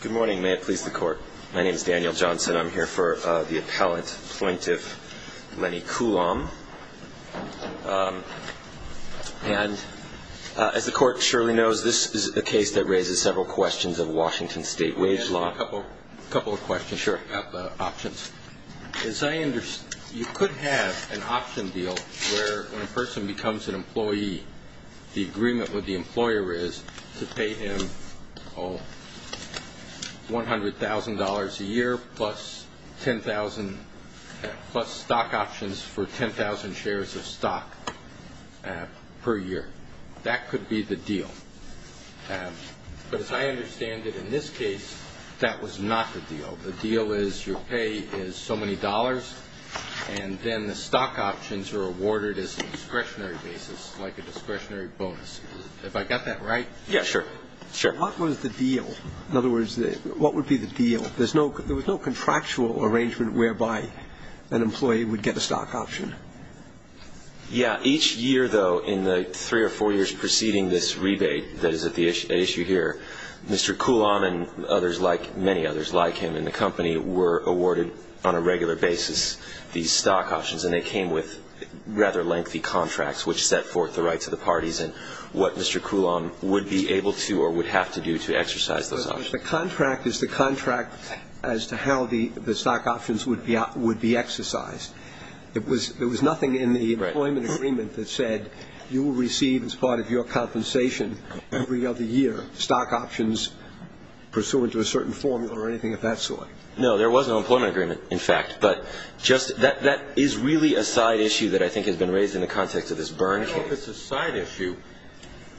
Good morning. May it please the court. My name is Daniel Johnson. I'm here for the appellant, Plaintiff Lenny Coulombe. And as the court surely knows, this is a case that raises several questions of Washington state wage law. A couple of questions. Sure. I've got the options. As I understand, you could have an option deal where when a person becomes an employee, the agreement with the employer is to pay him $100,000 a year plus stock options for 10,000 shares of stock per year. That could be the deal. But as I understand it in this case, that was not the deal. The deal is your pay is so many dollars, and then the stock options are awarded as a discretionary basis, like a discretionary bonus. Have I got that right? Yeah, sure. Sure. What was the deal? In other words, what would be the deal? There was no contractual arrangement whereby an employee would get a stock option. Yeah. Each year, though, in the three or four years preceding this rebate that is at issue here, Mr. Coulombe and others like many others like him in the company were awarded on a regular basis these stock options, and they came with rather lengthy contracts which set forth the rights of the parties and what Mr. Coulombe would be able to or would have to do to exercise those options. The contract is the contract as to how the stock options would be exercised. There was nothing in the employment agreement that said you will receive as part of your compensation every other year stock options pursuant to a certain formula or anything of that sort. No, there was no employment agreement, in fact. But that is really a side issue that I think has been raised in the context of this Berne case. I don't know if it's a side issue.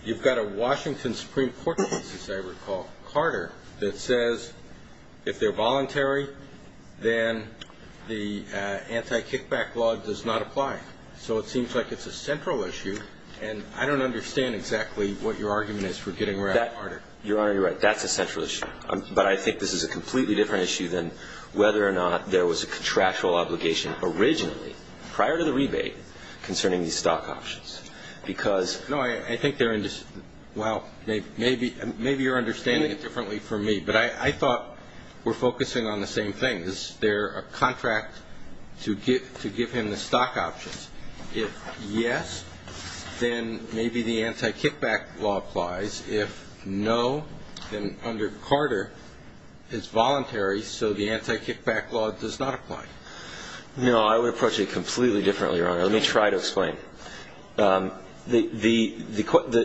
You've got a Washington Supreme Court case, as I recall, Carter, that says if they're voluntary, then the anti-kickback law does not apply. So it seems like it's a central issue, and I don't understand exactly what your argument is for getting rid of Carter. Your Honor, you're right. That's a central issue. But I think this is a completely different issue than whether or not there was a contractual obligation originally, prior to the rebate, concerning these stock options. No, I think they're in dis- well, maybe you're understanding it differently from me, but I thought we're focusing on the same thing. Is there a contract to give him the stock options? If yes, then maybe the anti-kickback law applies. If no, then under Carter, it's voluntary, so the anti-kickback law does not apply. No, I would approach it completely differently, Your Honor. Let me try to explain. The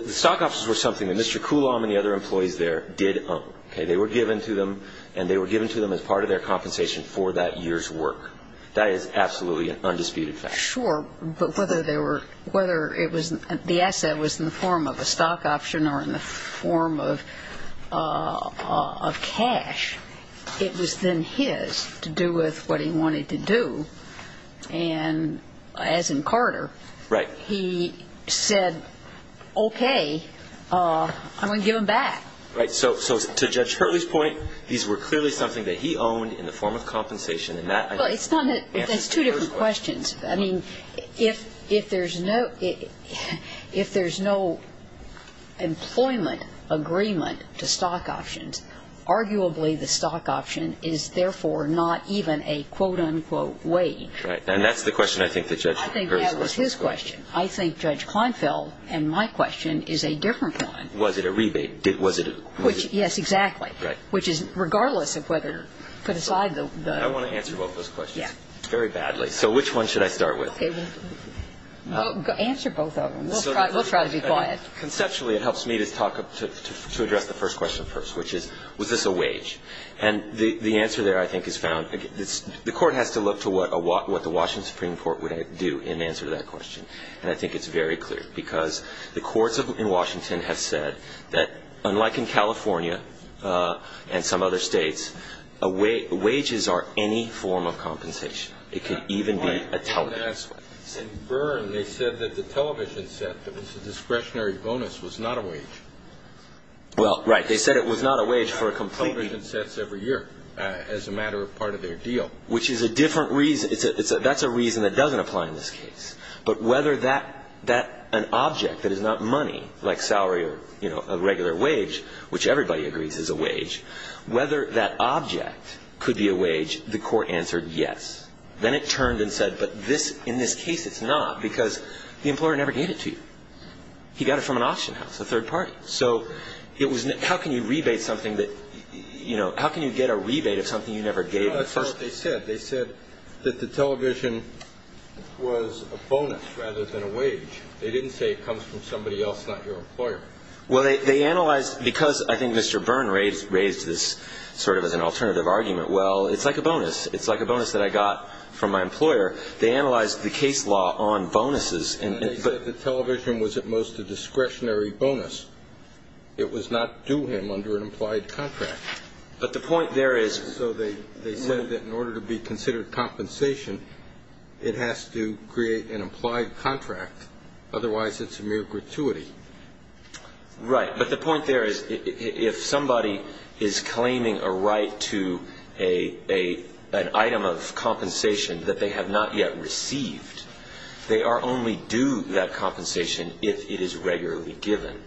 stock options were something that Mr. Coulomb and the other employees there did own. They were given to them, and they were given to them as part of their compensation for that year's work. That is absolutely an undisputed fact. Sure, but whether it was the asset was in the form of a stock option or in the form of cash, it was then his to do with what he wanted to do. And as in Carter, he said, okay, I'm going to give them back. Right. So to Judge Hurley's point, these were clearly something that he owned in the form of compensation, and that, I think, answers Judge Hurley's question. Well, it's not that. That's two different questions. I mean, if there's no employment agreement to stock options, arguably the stock option is therefore not even a quote, unquote, wage. And that's the question I think that Judge Hurley's question is going to be. I think that was his question. I think Judge Kleinfeld and my question is a different one. Was it a rebate? Was it a rebate? Yes, exactly. Right. Which is, regardless of whether you put aside the ---- I want to answer both those questions. Yes. Very badly. So which one should I start with? Answer both of them. We'll try to be quiet. Conceptually, it helps me to talk up to address the first question first, which is, was this a wage? And the answer there, I think, is found. The Court has to look to what the Washington Supreme Court would do in answer to that question. And I think it's very clear because the courts in Washington have said that, unlike in California and some other states, wages are any form of compensation. It could even be a television set. In Byrne, they said that the television set that was a discretionary bonus was not a wage. Well, right. They said it was not a wage for a complete ---- Television sets every year as a matter of part of their deal. Which is a different reason. That's a reason that doesn't apply in this case. But whether an object that is not money, like salary or a regular wage, which everybody agrees is a wage, whether that object could be a wage, the Court answered yes. Then it turned and said, but in this case it's not because the employer never gave it to you. He got it from an auction house, a third party. So how can you rebate something that, you know, how can you get a rebate of something you never gave in the first place? They said that the television was a bonus rather than a wage. They didn't say it comes from somebody else, not your employer. Well, they analyzed ---- because I think Mr. Byrne raised this sort of as an alternative argument. Well, it's like a bonus. It's like a bonus that I got from my employer. They analyzed the case law on bonuses. And they said the television was at most a discretionary bonus. It was not due him under an implied contract. But the point there is ---- So they said that in order to be considered compensation, it has to create an implied contract. Otherwise, it's a mere gratuity. Right. But the point there is if somebody is claiming a right to an item of compensation that they have not yet received, they are only due that compensation if it is regularly given,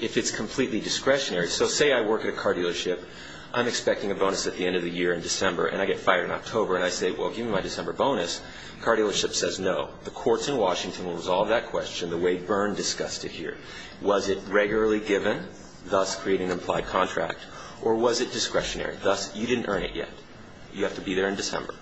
if it's completely discretionary. So say I work at a car dealership. I'm expecting a bonus at the end of the year in December, and I get fired in October. And I say, well, give me my December bonus. The car dealership says no. The courts in Washington will resolve that question the way Byrne discussed it here. Was it regularly given, thus creating an implied contract, or was it discretionary? Thus, you didn't earn it yet. You have to be there in December.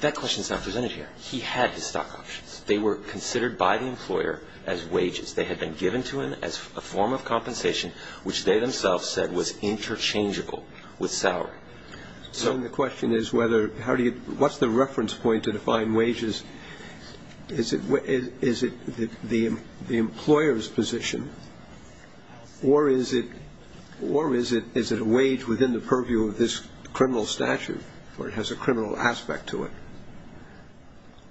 That question is not presented here. He had his stock options. They were considered by the employer as wages. They had been given to him as a form of compensation, which they themselves said was interchangeable with salary. So the question is whether how do you ñ what's the reference point to define wages? Is it the employer's position, or is it a wage within the purview of this criminal statute where it has a criminal aspect to it?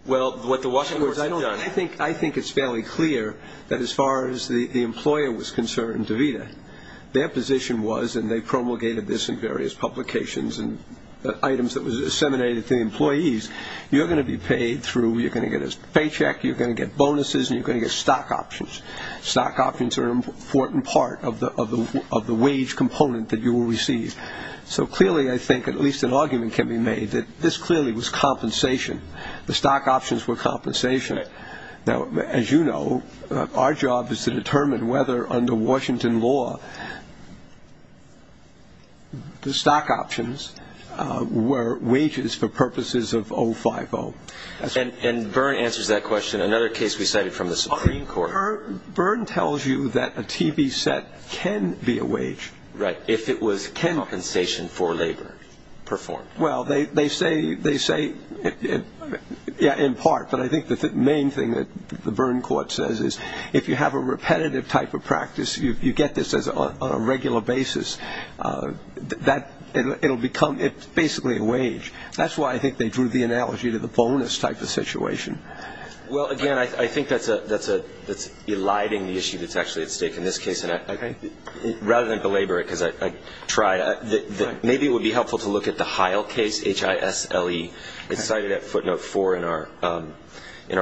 Well, what the Washington courts have done ñ I think it's fairly clear that as far as the employer was concerned, DeVita, their position was, and they promulgated this in various publications and items that were disseminated to employees, you're going to be paid through ñ you're going to get a paycheck, you're going to get bonuses, and you're going to get stock options. Stock options are an important part of the wage component that you will receive. So clearly, I think, at least an argument can be made that this clearly was compensation. The stock options were compensation. Now, as you know, our job is to determine whether, under Washington law, the stock options were wages for purposes of 050. And Byrne answers that question. Another case we cited from the Supreme Court. Byrne tells you that a TV set can be a wage. Right. If it was compensation for labor performed. Well, they say in part. But I think the main thing that the Byrne court says is if you have a repetitive type of practice, you get this on a regular basis, it will become basically a wage. That's why I think they drew the analogy to the bonus type of situation. Well, again, I think that's eliding the issue that's actually at stake in this case. Rather than belabor it, because I tried, maybe it would be helpful to look at the Heil case, H-I-S-L-E. It's cited at footnote four in our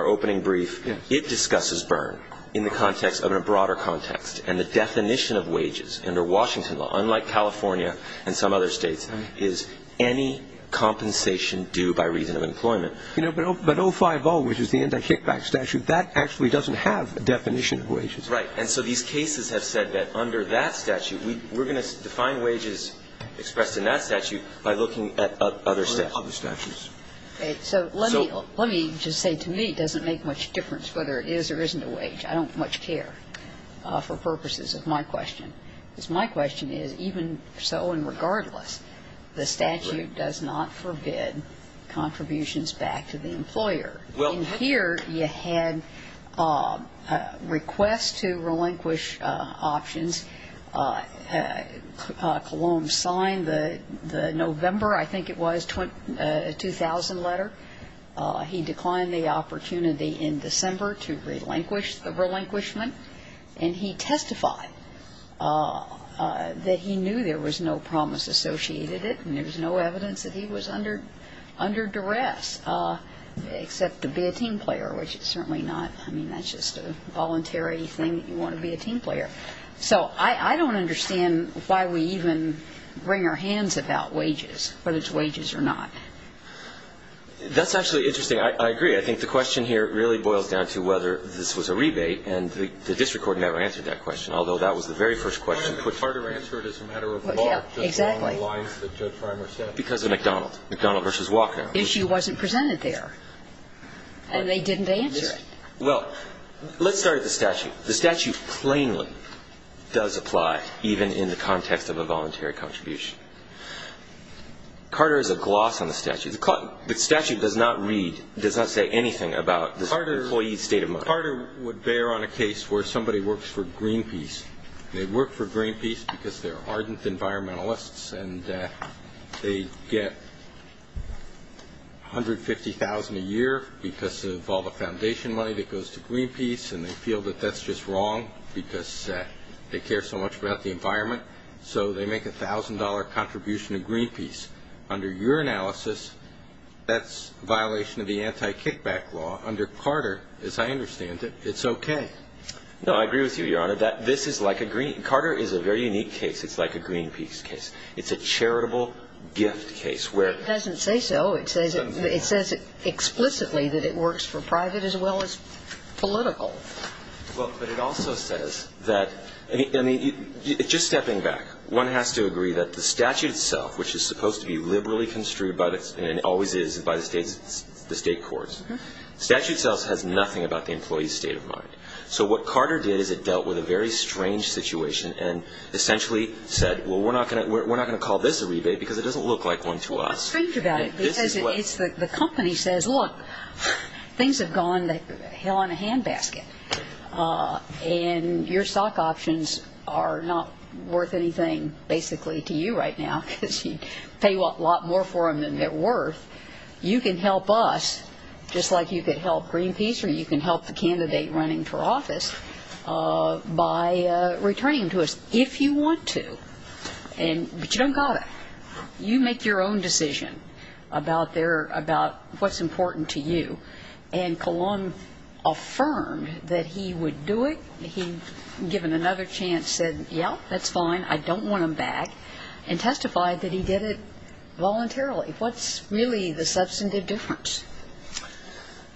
opening brief. It discusses Byrne in the context of a broader context. And the definition of wages under Washington law, unlike California and some other states, is any compensation due by reason of employment. But 050, which is the anti-kickback statute, that actually doesn't have a definition of wages. Right. And so these cases have said that under that statute, we're going to define wages expressed in that statute by looking at other statutes. So let me just say to me it doesn't make much difference whether it is or isn't a wage. I don't much care for purposes of my question. Because my question is, even so and regardless, the statute does not forbid contributions back to the employer. In here, you had requests to relinquish options. Cologne signed the November, I think it was, 2000 letter. He declined the opportunity in December to relinquish the relinquishment. And he testified that he knew there was no promise associated with it except to be a team player, which it's certainly not. I mean, that's just a voluntary thing. You want to be a team player. So I don't understand why we even bring our hands about wages, whether it's wages or not. That's actually interesting. I agree. I think the question here really boils down to whether this was a rebate. And the district court never answered that question, although that was the very first question. It's harder to answer it as a matter of law. Exactly. Because of McDonald. McDonald versus Walker. The issue wasn't presented there. And they didn't answer it. Well, let's start at the statute. The statute plainly does apply, even in the context of a voluntary contribution. Carter is a gloss on the statute. The statute does not read, does not say anything about the employee's state of mind. Carter would bear on a case where somebody works for Greenpeace. They work for Greenpeace because they're ardent environmentalists and they get $150,000 a year because of all the foundation money that goes to Greenpeace and they feel that that's just wrong because they care so much about the environment. So they make a $1,000 contribution to Greenpeace. Under your analysis, that's a violation of the anti-kickback law. Under Carter, as I understand it, it's okay. No, I agree with you, Your Honor. Carter is a very unique case. It's like a Greenpeace case. It's a charitable gift case where ---- It doesn't say so. It says it explicitly that it works for private as well as political. Well, but it also says that ---- I mean, just stepping back, one has to agree that the statute itself, which is supposed to be liberally construed and always is by the State courts, statute itself has nothing about the employee's state of mind. So what Carter did is it dealt with a very strange situation and essentially said, well, we're not going to call this a rebate because it doesn't look like one to us. Well, what's strange about it is the company says, look, things have gone to hell in a handbasket and your stock options are not worth anything basically to you right now because you pay a lot more for them than they're worth. You can help us just like you could help Greenpeace or you can help the candidate running for office by returning them to us if you want to. But you don't got to. You make your own decision about their ---- about what's important to you. And Colon affirmed that he would do it. He, given another chance, said, yeah, that's fine, I don't want them back, and testified that he did it voluntarily. What's really the substantive difference?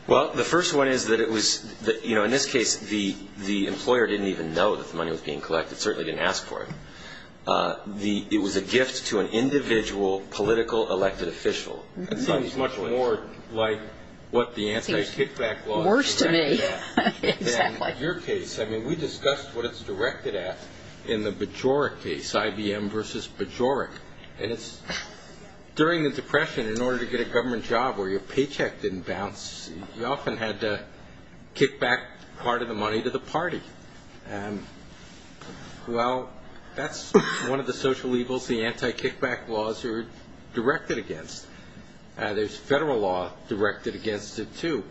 Well, the first one is that it was ---- you know, in this case, the employer didn't even know that the money was being collected, certainly didn't ask for it. It was a gift to an individual political elected official. It seems much more like what the anti-kickback law is directed at than your case. I mean, we discussed what it's directed at in the Bajoruk case, IBM versus Bajoruk, and it's during the Depression in order to get a government job where your paycheck didn't bounce, you often had to kick back part of the money to the party. Well, that's one of the social evils the anti-kickback laws are directed against. There's federal law directed against it, too.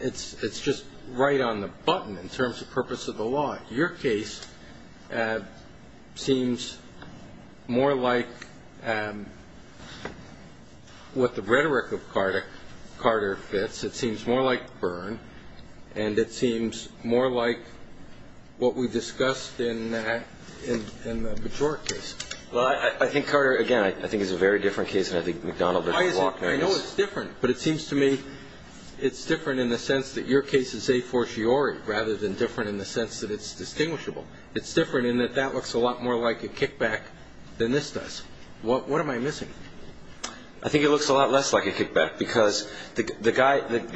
It's just right on the button in terms of purpose of the law. Your case seems more like what the rhetoric of Carter fits. It seems more like Byrne, and it seems more like what we discussed in the Bajoruk case. Well, I think, Carter, again, I think it's a very different case than I think McDonald versus Walker is. I know it's different, but it seems to me it's different in the sense that your case is a fortiori rather than different in the sense that it's distinguishable. It's different in that that looks a lot more like a kickback than this does. What am I missing? I think it looks a lot less like a kickback because the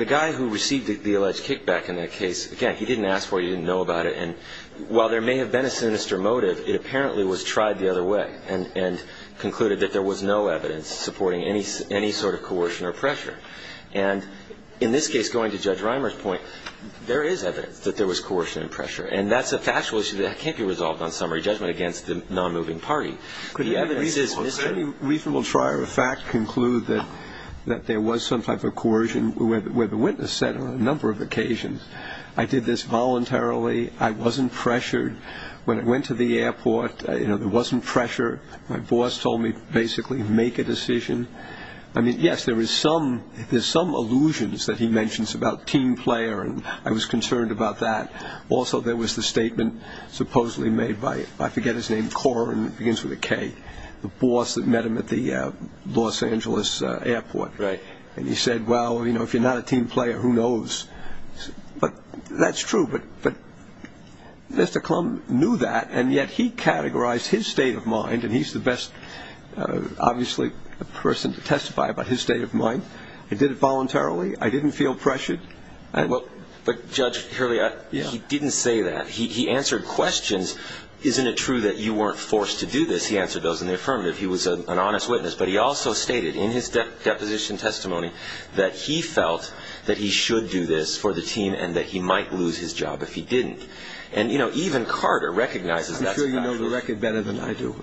guy who received the alleged kickback in that case, again, he didn't ask for it. He didn't know about it. And while there may have been a sinister motive, it apparently was tried the other way and concluded that there was no evidence supporting any sort of coercion or pressure. And in this case, going to Judge Reimer's point, there is evidence that there was coercion and pressure, and that's a factual issue that can't be resolved on summary judgment against the nonmoving party. Could any reasonable trier of fact conclude that there was some type of coercion, where the witness said on a number of occasions, I did this voluntarily, I wasn't pressured. When I went to the airport, there wasn't pressure. My boss told me to basically make a decision. I mean, yes, there's some allusions that he mentions about team player, and I was concerned about that. Also, there was the statement supposedly made by, I forget his name, Corr, and it begins with a K, the boss that met him at the Los Angeles airport. And he said, well, you know, if you're not a team player, who knows. But that's true. But Mr. Klum knew that, and yet he categorized his state of mind, and he's the best, obviously, person to testify about his state of mind. He did it voluntarily. I didn't feel pressured. But, Judge Hurley, he didn't say that. He answered questions. Isn't it true that you weren't forced to do this? He answered those in the affirmative. He was an honest witness. But he also stated in his deposition testimony that he felt that he should do this for the team and that he might lose his job if he didn't. And, you know, even Carter recognizes that. I'm sure you know the record better than I do.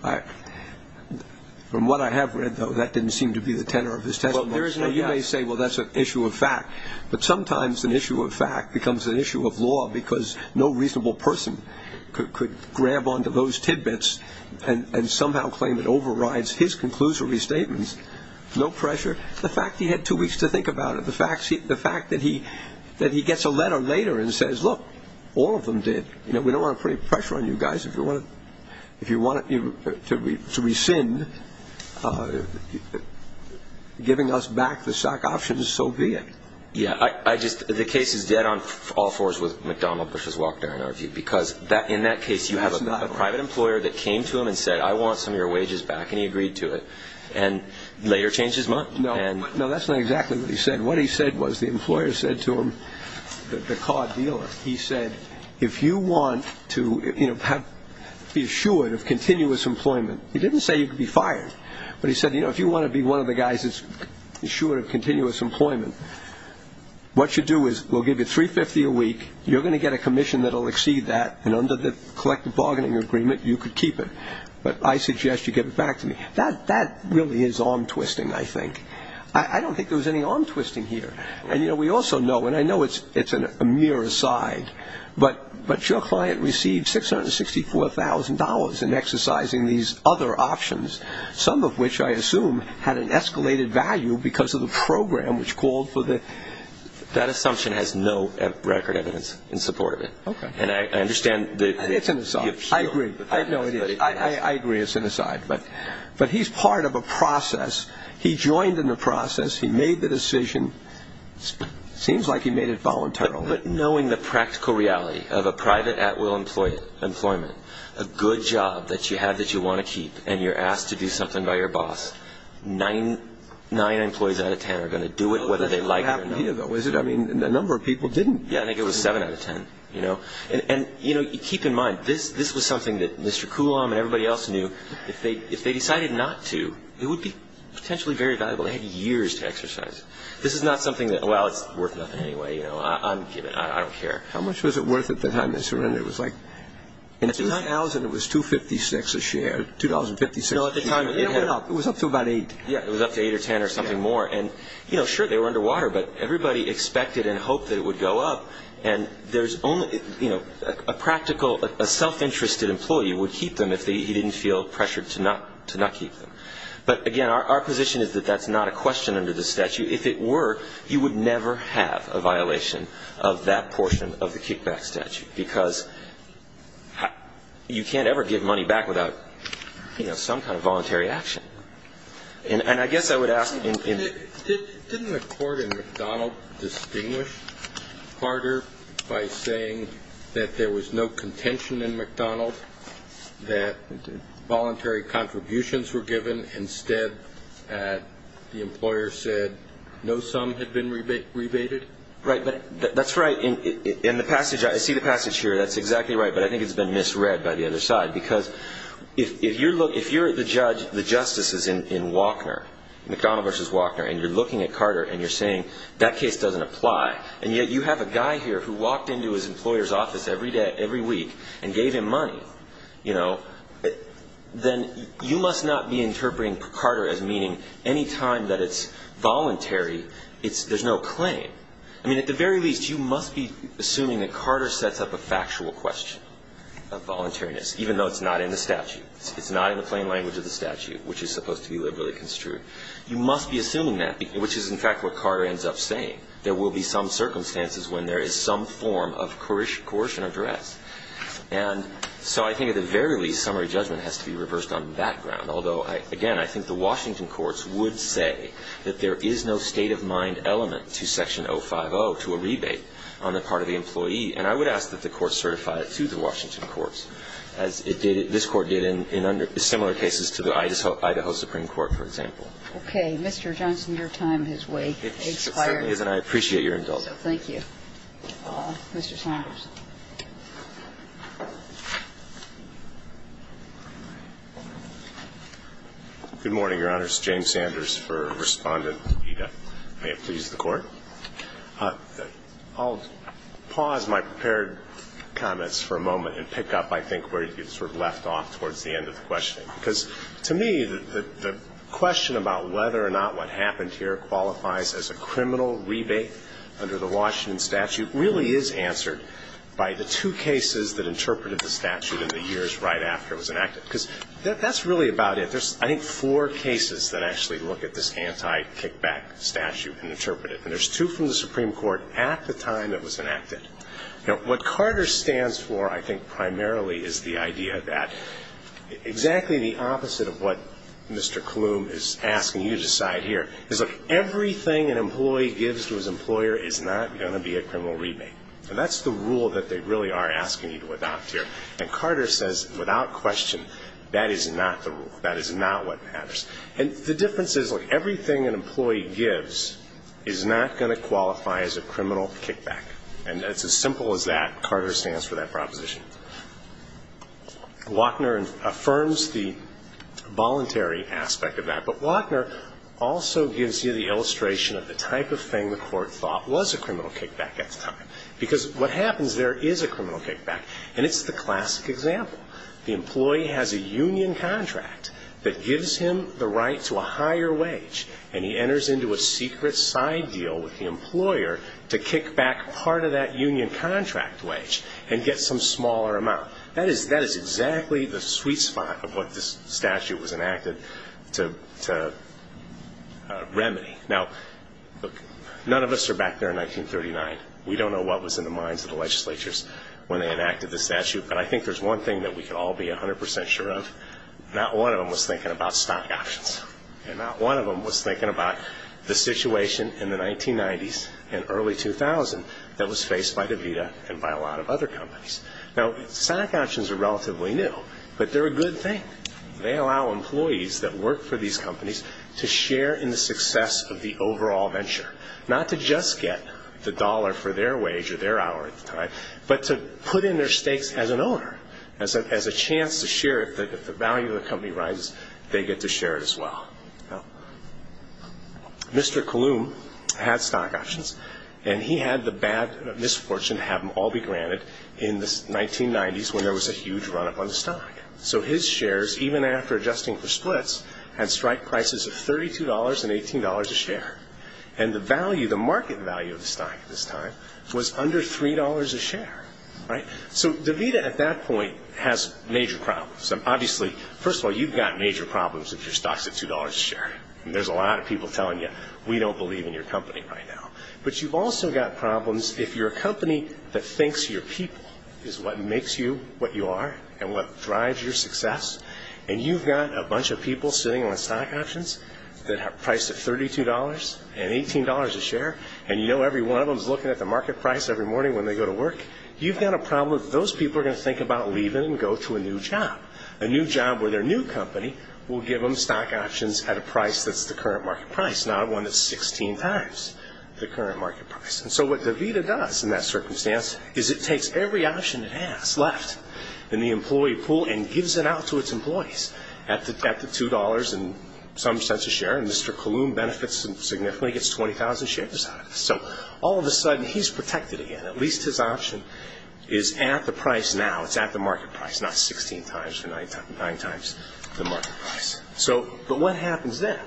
From what I have read, though, that didn't seem to be the tenor of his testimony. Well, you may say, well, that's an issue of fact. But sometimes an issue of fact becomes an issue of law because no reasonable person could grab onto those tidbits and somehow claim it overrides his conclusory statements. No pressure. The fact he had two weeks to think about it, the fact that he gets a letter later and says, look, all of them did. You know, we don't want to put any pressure on you guys. If you want to rescind giving us back the shock options, so be it. Yeah, I just – the case is dead on all fours with McDonnell versus Wachter in our view because in that case you have a private employer that came to him and said, I want some of your wages back, and he agreed to it and later changed his mind. No, that's not exactly what he said. What he said was the employer said to him, the car dealer, he said, if you want to be assured of continuous employment, he didn't say you could be fired, but he said, you know, if you want to be one of the guys assured of continuous employment, what you do is we'll give you $350 a week, you're going to get a commission that will exceed that, and under the collective bargaining agreement you could keep it. But I suggest you give it back to me. That really is arm-twisting, I think. I don't think there was any arm-twisting here. And, you know, we also know, and I know it's a mere aside, but your client received $664,000 in exercising these other options, some of which I assume had an escalated value because of the program which called for the – That assumption has no record evidence in support of it. Okay. And I understand the – It's an aside. I agree. No, it is. I agree it's an aside, but he's part of a process. He joined in the process. He made the decision. Seems like he made it voluntarily. But knowing the practical reality of a private at-will employment, a good job that you have that you want to keep and you're asked to do something by your boss, nine employees out of ten are going to do it whether they like it or not. I mean, a number of people didn't. Yeah, I think it was seven out of ten, you know. And, you know, keep in mind, this was something that Mr. Kulam and everybody else knew. If they decided not to, it would be potentially very valuable. They had years to exercise it. This is not something that, well, it's worth nothing anyway, you know. I don't care. How much was it worth at the time they surrendered? It was like – In 2000, it was $2.56 a share. $2.56 a share. No, at the time it went up. It was up to about $8. Yeah, it was up to $8 or $10 or something more. And, you know, sure, they were underwater, but everybody expected and hoped that it would go up. And there's only – you know, a practical – a self-interested employee would keep them if he didn't feel pressured to not keep them. But, again, our position is that that's not a question under the statute. If it were, you would never have a violation of that portion of the kickback statute, because you can't ever give money back without, you know, some kind of voluntary action. And I guess I would ask – Didn't the court in McDonald distinguish harder by saying that there was no contention in McDonald that voluntary contributions were given instead that the employer said no sum had been rebated? Right, but that's right. In the passage – I see the passage here. That's exactly right, but I think it's been misread by the other side, because if you're the judge, the justice is in Walkner, McDonald v. Walkner, and you're looking at Carter and you're saying that case doesn't apply, and yet you have a guy here who walked into his employer's office every week and gave him money, you know, then you must not be interpreting Carter as meaning any time that it's voluntary, there's no claim. I mean, at the very least, you must be assuming that Carter sets up a factual question of voluntariness, even though it's not in the statute. It's not in the plain language of the statute, which is supposed to be liberally construed. You must be assuming that, which is, in fact, what Carter ends up saying. There will be some circumstances when there is some form of coercion of duress. And so I think, at the very least, summary judgment has to be reversed on that ground. Although, again, I think the Washington courts would say that there is no state-of-mind element to Section 050 to a rebate on the part of the employee. And I would ask that the Court certify it to the Washington courts, as it did, this Court did in under the similar cases to the Idaho Supreme Court, for example. Okay. Mr. Johnson, your time has expired. It certainly is, and I appreciate your indulgence. Thank you. Mr. Sanders. Good morning, Your Honors. James Sanders for Respondent Eda. May it please the Court. I'll pause my prepared comments for a moment and pick up, I think, where you sort of left off towards the end of the question. Because, to me, the question about whether or not what happened here qualifies as a criminal rebate under the Washington statute really is answered by the two cases that interpreted the statute in the years right after it was enacted. Because that's really about it. There's, I think, four cases that actually look at this anti-kickback statute and interpret it, and there's two from the Supreme Court at the time it was enacted. Now, what Carter stands for, I think, primarily is the idea that exactly the opposite of what Mr. Klum is asking you to decide here is, look, everything an employee gives to his employer is not going to be a criminal rebate. And that's the rule that they really are asking you to adopt here. And Carter says, without question, that is not the rule. That is not what matters. And the difference is, look, everything an employee gives is not going to qualify as a criminal kickback. And it's as simple as that. Carter stands for that proposition. Wachner affirms the voluntary aspect of that. But Wachner also gives you the illustration of the type of thing the Court thought was a criminal kickback at the time. Because what happens, there is a criminal kickback. And it's the classic example. The employee has a union contract that gives him the right to a higher wage. And he enters into a secret side deal with the employer to kick back part of that union contract wage and get some smaller amount. That is exactly the sweet spot of what this statute was enacted to remedy. Now, look, none of us are back there in 1939. We don't know what was in the minds of the legislatures when they enacted this statute. But I think there's one thing that we can all be 100 percent sure of. Not one of them was thinking about stock options. And not one of them was thinking about the situation in the 1990s and early 2000s that was faced by DaVita and by a lot of other companies. Now, stock options are relatively new, but they're a good thing. They allow employees that work for these companies to share in the success of the overall venture. Not to just get the dollar for their wage or their hour at the time, but to put in their stakes as an owner, as a chance to share. If the value of the company rises, they get to share it as well. Now, Mr. Kalum had stock options. And he had the bad misfortune to have them all be granted in the 1990s when there was a huge run-up on the stock. So his shares, even after adjusting for splits, had strike prices of $32 and $18 a share. And the market value of the stock at this time was under $3 a share. So DaVita at that point has major problems. Obviously, first of all, you've got major problems if your stock's at $2 a share. There's a lot of people telling you, we don't believe in your company right now. But you've also got problems if you're a company that thinks your people is what makes you what you are and what drives your success, and you've got a bunch of people sitting on stock options that are priced at $32 and $18 a share, and you know every one of them is looking at the market price every morning when they go to work. You've got a problem if those people are going to think about leaving and go to a new job, a new job where their new company will give them stock options at a price that's the current market price, not one that's 16 times the current market price. And so what DaVita does in that circumstance is it takes every option it has left in the employee pool and gives it out to its employees at the $2 and some cents a share, and Mr. Kulum benefits significantly, gets 20,000 shares out of it. So all of a sudden, he's protected again. At least his option is at the price now. It's at the market price, not 16 times or 9 times the market price. But what happens then?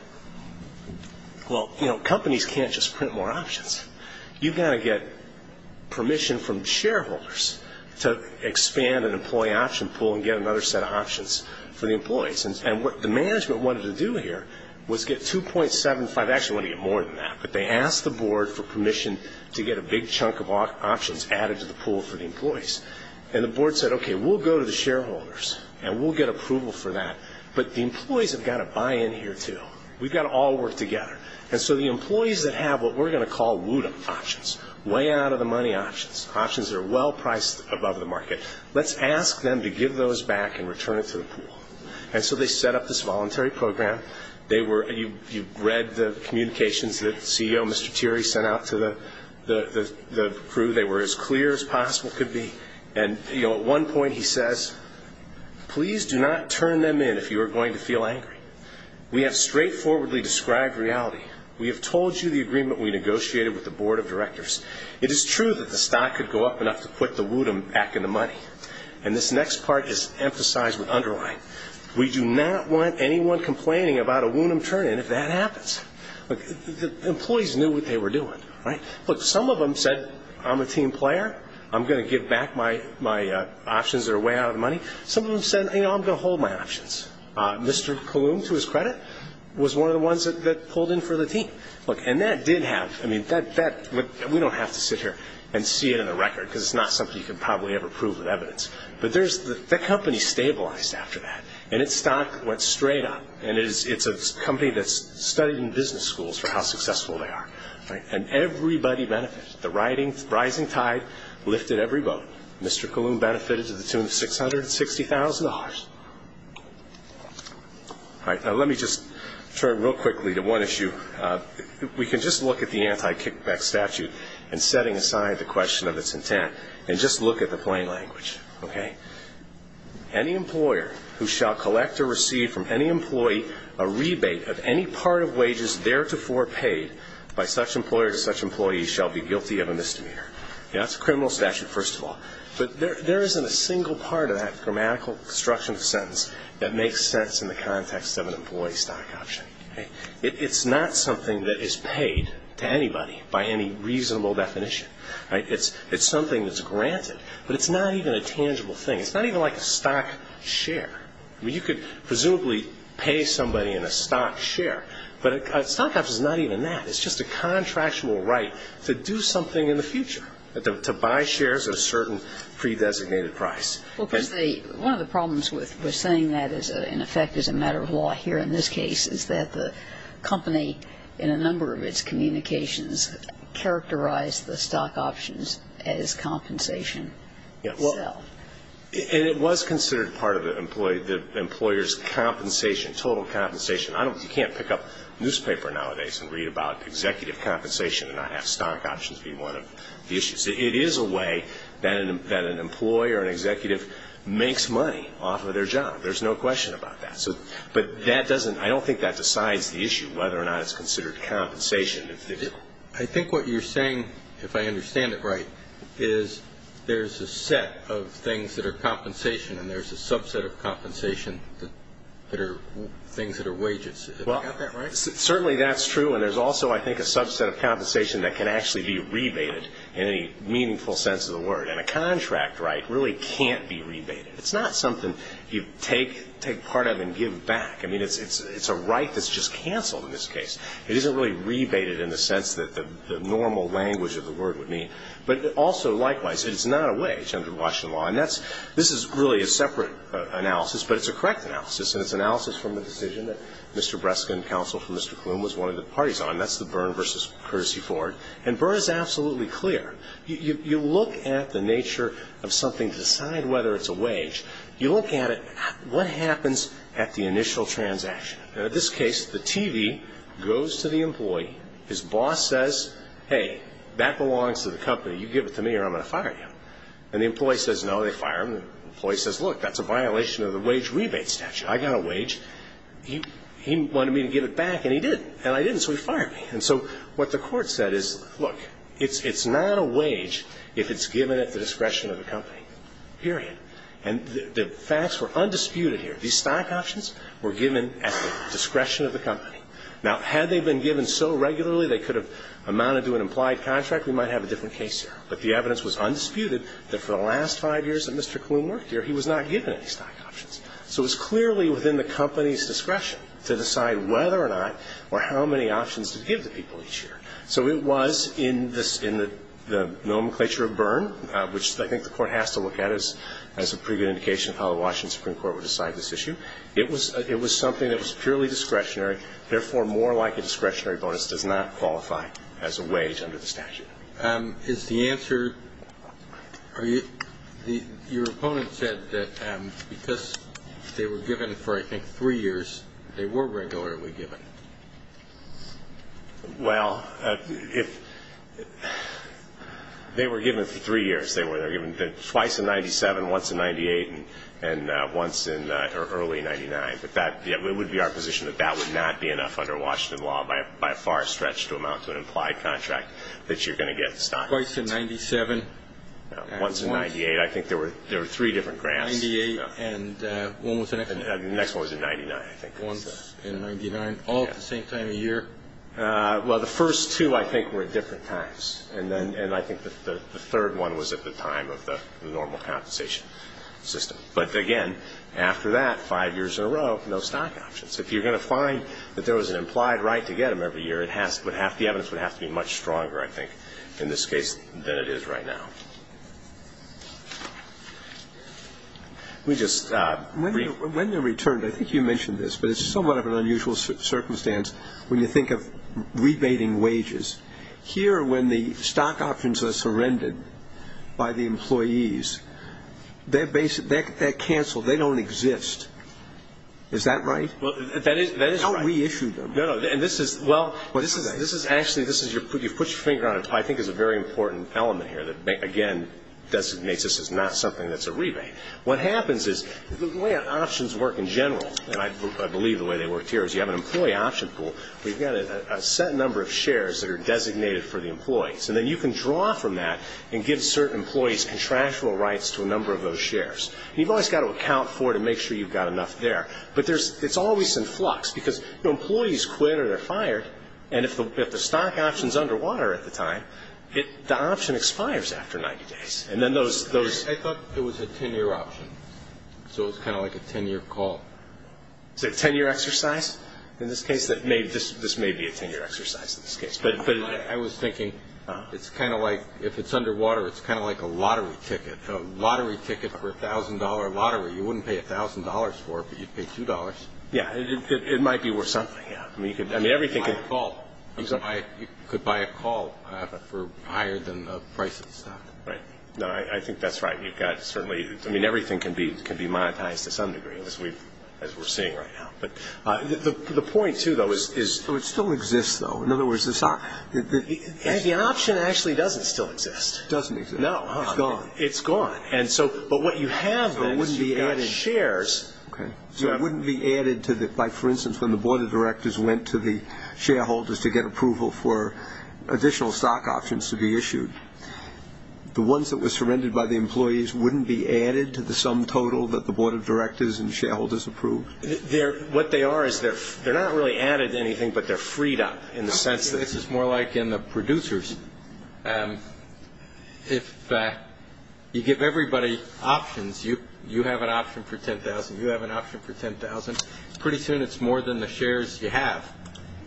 Well, companies can't just print more options. You've got to get permission from shareholders to expand an employee option pool and get another set of options for the employees. And what the management wanted to do here was get 2.75. They actually wanted to get more than that, but they asked the board for permission to get a big chunk of options added to the pool for the employees. And the board said, okay, we'll go to the shareholders, and we'll get approval for that, but the employees have got to buy in here too. We've got to all work together. And so the employees that have what we're going to call wooden options, way out-of-the-money options, options that are well-priced above the market, let's ask them to give those back and return it to the pool. And so they set up this voluntary program. You read the communications that CEO Mr. Thierry sent out to the crew. They were as clear as possible could be. And at one point he says, please do not turn them in if you are going to feel angry. We have straightforwardly described reality. We have told you the agreement we negotiated with the board of directors. It is true that the stock could go up enough to put the wooden back in the money. And this next part is emphasized with underline. We do not want anyone complaining about a wooden turn-in if that happens. Employees knew what they were doing. Look, some of them said, I'm a team player. I'm going to give back my options that are way out-of-the-money. Some of them said, you know, I'm going to hold my options. Mr. Calhoun, to his credit, was one of the ones that pulled in for the team. And that did happen. I mean, we don't have to sit here and see it in the record because it's not something you can probably ever prove with evidence. But the company stabilized after that, and its stock went straight up. And it's a company that's studied in business schools for how successful they are. And everybody benefited. The rising tide lifted every boat. Mr. Calhoun benefited to the tune of $660,000. All right, now let me just turn real quickly to one issue. We can just look at the anti-kickback statute and setting aside the question of its intent and just look at the plain language, okay? Any employer who shall collect or receive from any employee a rebate of any part of wages theretofore paid by such employer to such employee shall be guilty of a misdemeanor. That's a criminal statute, first of all. But there isn't a single part of that grammatical construction of the sentence that makes sense in the context of an employee stock option. It's not something that is paid to anybody by any reasonable definition. It's something that's granted. But it's not even a tangible thing. It's not even like a stock share. I mean, you could presumably pay somebody in a stock share. But a stock option is not even that. It's just a contractual right to do something in the future, to buy shares at a certain pre-designated price. Well, because one of the problems with saying that, in effect, as a matter of law here in this case, is that the company in a number of its communications characterized the stock options as compensation itself. And it was considered part of the employer's compensation, total compensation. You can't pick up a newspaper nowadays and read about executive compensation and not have stock options be one of the issues. It is a way that an employer or an executive makes money off of their job. There's no question about that. But that doesn't ‑‑ I don't think that decides the issue, whether or not it's considered compensation. I think what you're saying, if I understand it right, is there's a set of things that are compensation, and there's a subset of compensation that are things that are wages. Have I got that right? Certainly that's true. And there's also, I think, a subset of compensation that can actually be rebated in any meaningful sense of the word. And a contract right really can't be rebated. It's not something you take part of and give back. I mean, it's a right that's just canceled in this case. It isn't really rebated in the sense that the normal language of the word would mean. But also, likewise, it's not a wage under Washington law. And this is really a separate analysis, but it's a correct analysis, and it's analysis from a decision that Mr. Breskin, counsel for Mr. Klum, was one of the parties on. That's the Byrne v. Courtesy Ford. And Byrne is absolutely clear. You look at the nature of something to decide whether it's a wage. You look at it, what happens at the initial transaction? Now, in this case, the TV goes to the employee. His boss says, hey, that belongs to the company. You give it to me or I'm going to fire you. And the employee says no, they fire him. The employee says, look, that's a violation of the wage rebate statute. I got a wage. He wanted me to give it back, and he did. And I didn't, so he fired me. And so what the court said is, look, it's not a wage if it's given at the discretion of the company, period. And the facts were undisputed here. These stock options were given at the discretion of the company. Now, had they been given so regularly they could have amounted to an implied contract, we might have a different case here. But the evidence was undisputed that for the last five years that Mr. Kloon worked here, he was not given any stock options. So it was clearly within the company's discretion to decide whether or not or how many options to give to people each year. So it was in the nomenclature of Byrne, which I think the Court has to look at as a pretty good indication of how the Washington Supreme Court would decide this issue, it was something that was purely discretionary, therefore more like a discretionary bonus, does not qualify as a wage under the statute. Is the answer, your opponent said that because they were given for, I think, three years, they were regularly given. Well, if they were given for three years, they were given twice in 97, once in 98, and once in early 99, it would be our position that that would not be enough under Washington law by a far stretch to amount to an implied contract that you're going to get stock options. Twice in 97? Once in 98. I think there were three different grants. 98 and when was the next one? The next one was in 99, I think. Once in 99, all at the same time of year? Well, the first two, I think, were at different times. And I think the third one was at the time of the normal compensation system. But again, after that, five years in a row, no stock options. If you're going to find that there was an implied right to get them every year, the evidence would have to be much stronger, I think, in this case, than it is right now. When they're returned, I think you mentioned this, but it's somewhat of an unusual circumstance when you think of rebating wages. Here, when the stock options are surrendered by the employees, they're canceled. They don't exist. Is that right? That is right. How do we issue them? Well, actually, you've put your finger on it, which I think is a very important element here that, again, designates this is not something that's a rebate. What happens is the way options work in general, and I believe the way they worked here is you have an employee option pool where you've got a set number of shares that are designated for the employees. And then you can draw from that and give certain employees contractual rights to a number of those shares. You've always got to account for it and make sure you've got enough there. But it's always in flux because employees quit or they're fired, and if the stock option is underwater at the time, the option expires after 90 days. I thought it was a 10-year option, so it's kind of like a 10-year call. Is it a 10-year exercise? In this case, this may be a 10-year exercise in this case. But I was thinking it's kind of like if it's underwater, it's kind of like a lottery ticket, a lottery ticket for a $1,000 lottery. You wouldn't pay $1,000 for it, but you'd pay $2. Yeah, it might be worth something. You could buy a call. You could buy a call for higher than the price of the stock. Right. No, I think that's right. You've got certainly – I mean, everything can be monetized to some degree, as we're seeing right now. But the point, too, though, is – It still exists, though. In other words, the option actually doesn't still exist. It doesn't exist. No. It's gone. It's gone. But what you have, then, is you've got shares. Okay. So it wouldn't be added to the – like, for instance, when the board of directors went to the shareholders to get approval for additional stock options to be issued, the ones that were surrendered by the employees wouldn't be added to the sum total that the board of directors and shareholders approved? What they are is they're not really added to anything, but they're freed up in the sense that – You give everybody options. You have an option for $10,000. You have an option for $10,000. Pretty soon it's more than the shares you have.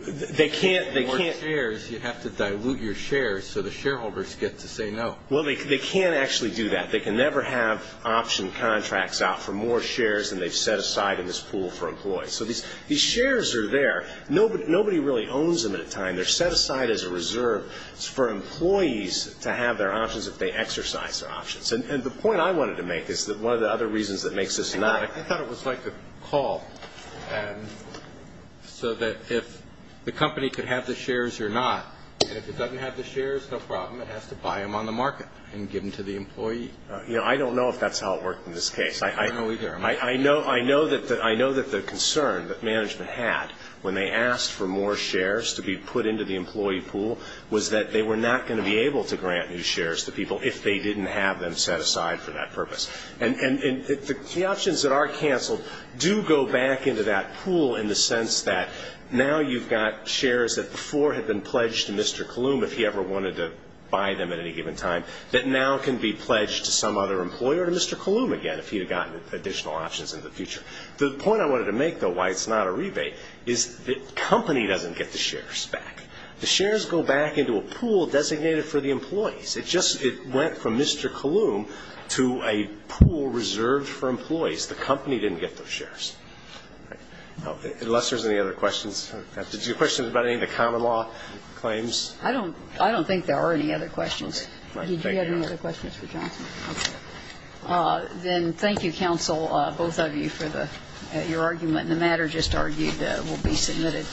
They can't – More shares. You have to dilute your shares so the shareholders get to say no. Well, they can't actually do that. They can never have option contracts out for more shares than they've set aside in this pool for employees. So these shares are there. Nobody really owns them at a time. They're set aside as a reserve. It's for employees to have their options if they exercise their options. And the point I wanted to make is that one of the other reasons that makes this not – I thought it was like a call so that if the company could have the shares or not, and if it doesn't have the shares, no problem. It has to buy them on the market and give them to the employee. I don't know if that's how it worked in this case. I don't know either. I know that the concern that management had when they asked for more shares to be put into the employee pool was that they were not going to be able to grant new shares to people if they didn't have them set aside for that purpose. And the options that are canceled do go back into that pool in the sense that now you've got shares that before had been pledged to Mr. Kalum if he ever wanted to buy them at any given time that now can be pledged to some other employer, to Mr. Kalum again, if he had gotten additional options in the future. The point I wanted to make, though, why it's not a rebate, is the company doesn't get the shares back. The shares go back into a pool designated for the employees. It just went from Mr. Kalum to a pool reserved for employees. The company didn't get those shares. Unless there's any other questions. Did you have questions about any of the common law claims? I don't think there are any other questions. Do you have any other questions for Johnson? Okay. Then thank you, counsel, both of you, for your argument. The matter just argued will be submitted,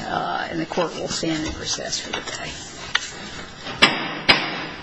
and the court will stand at recess for the day.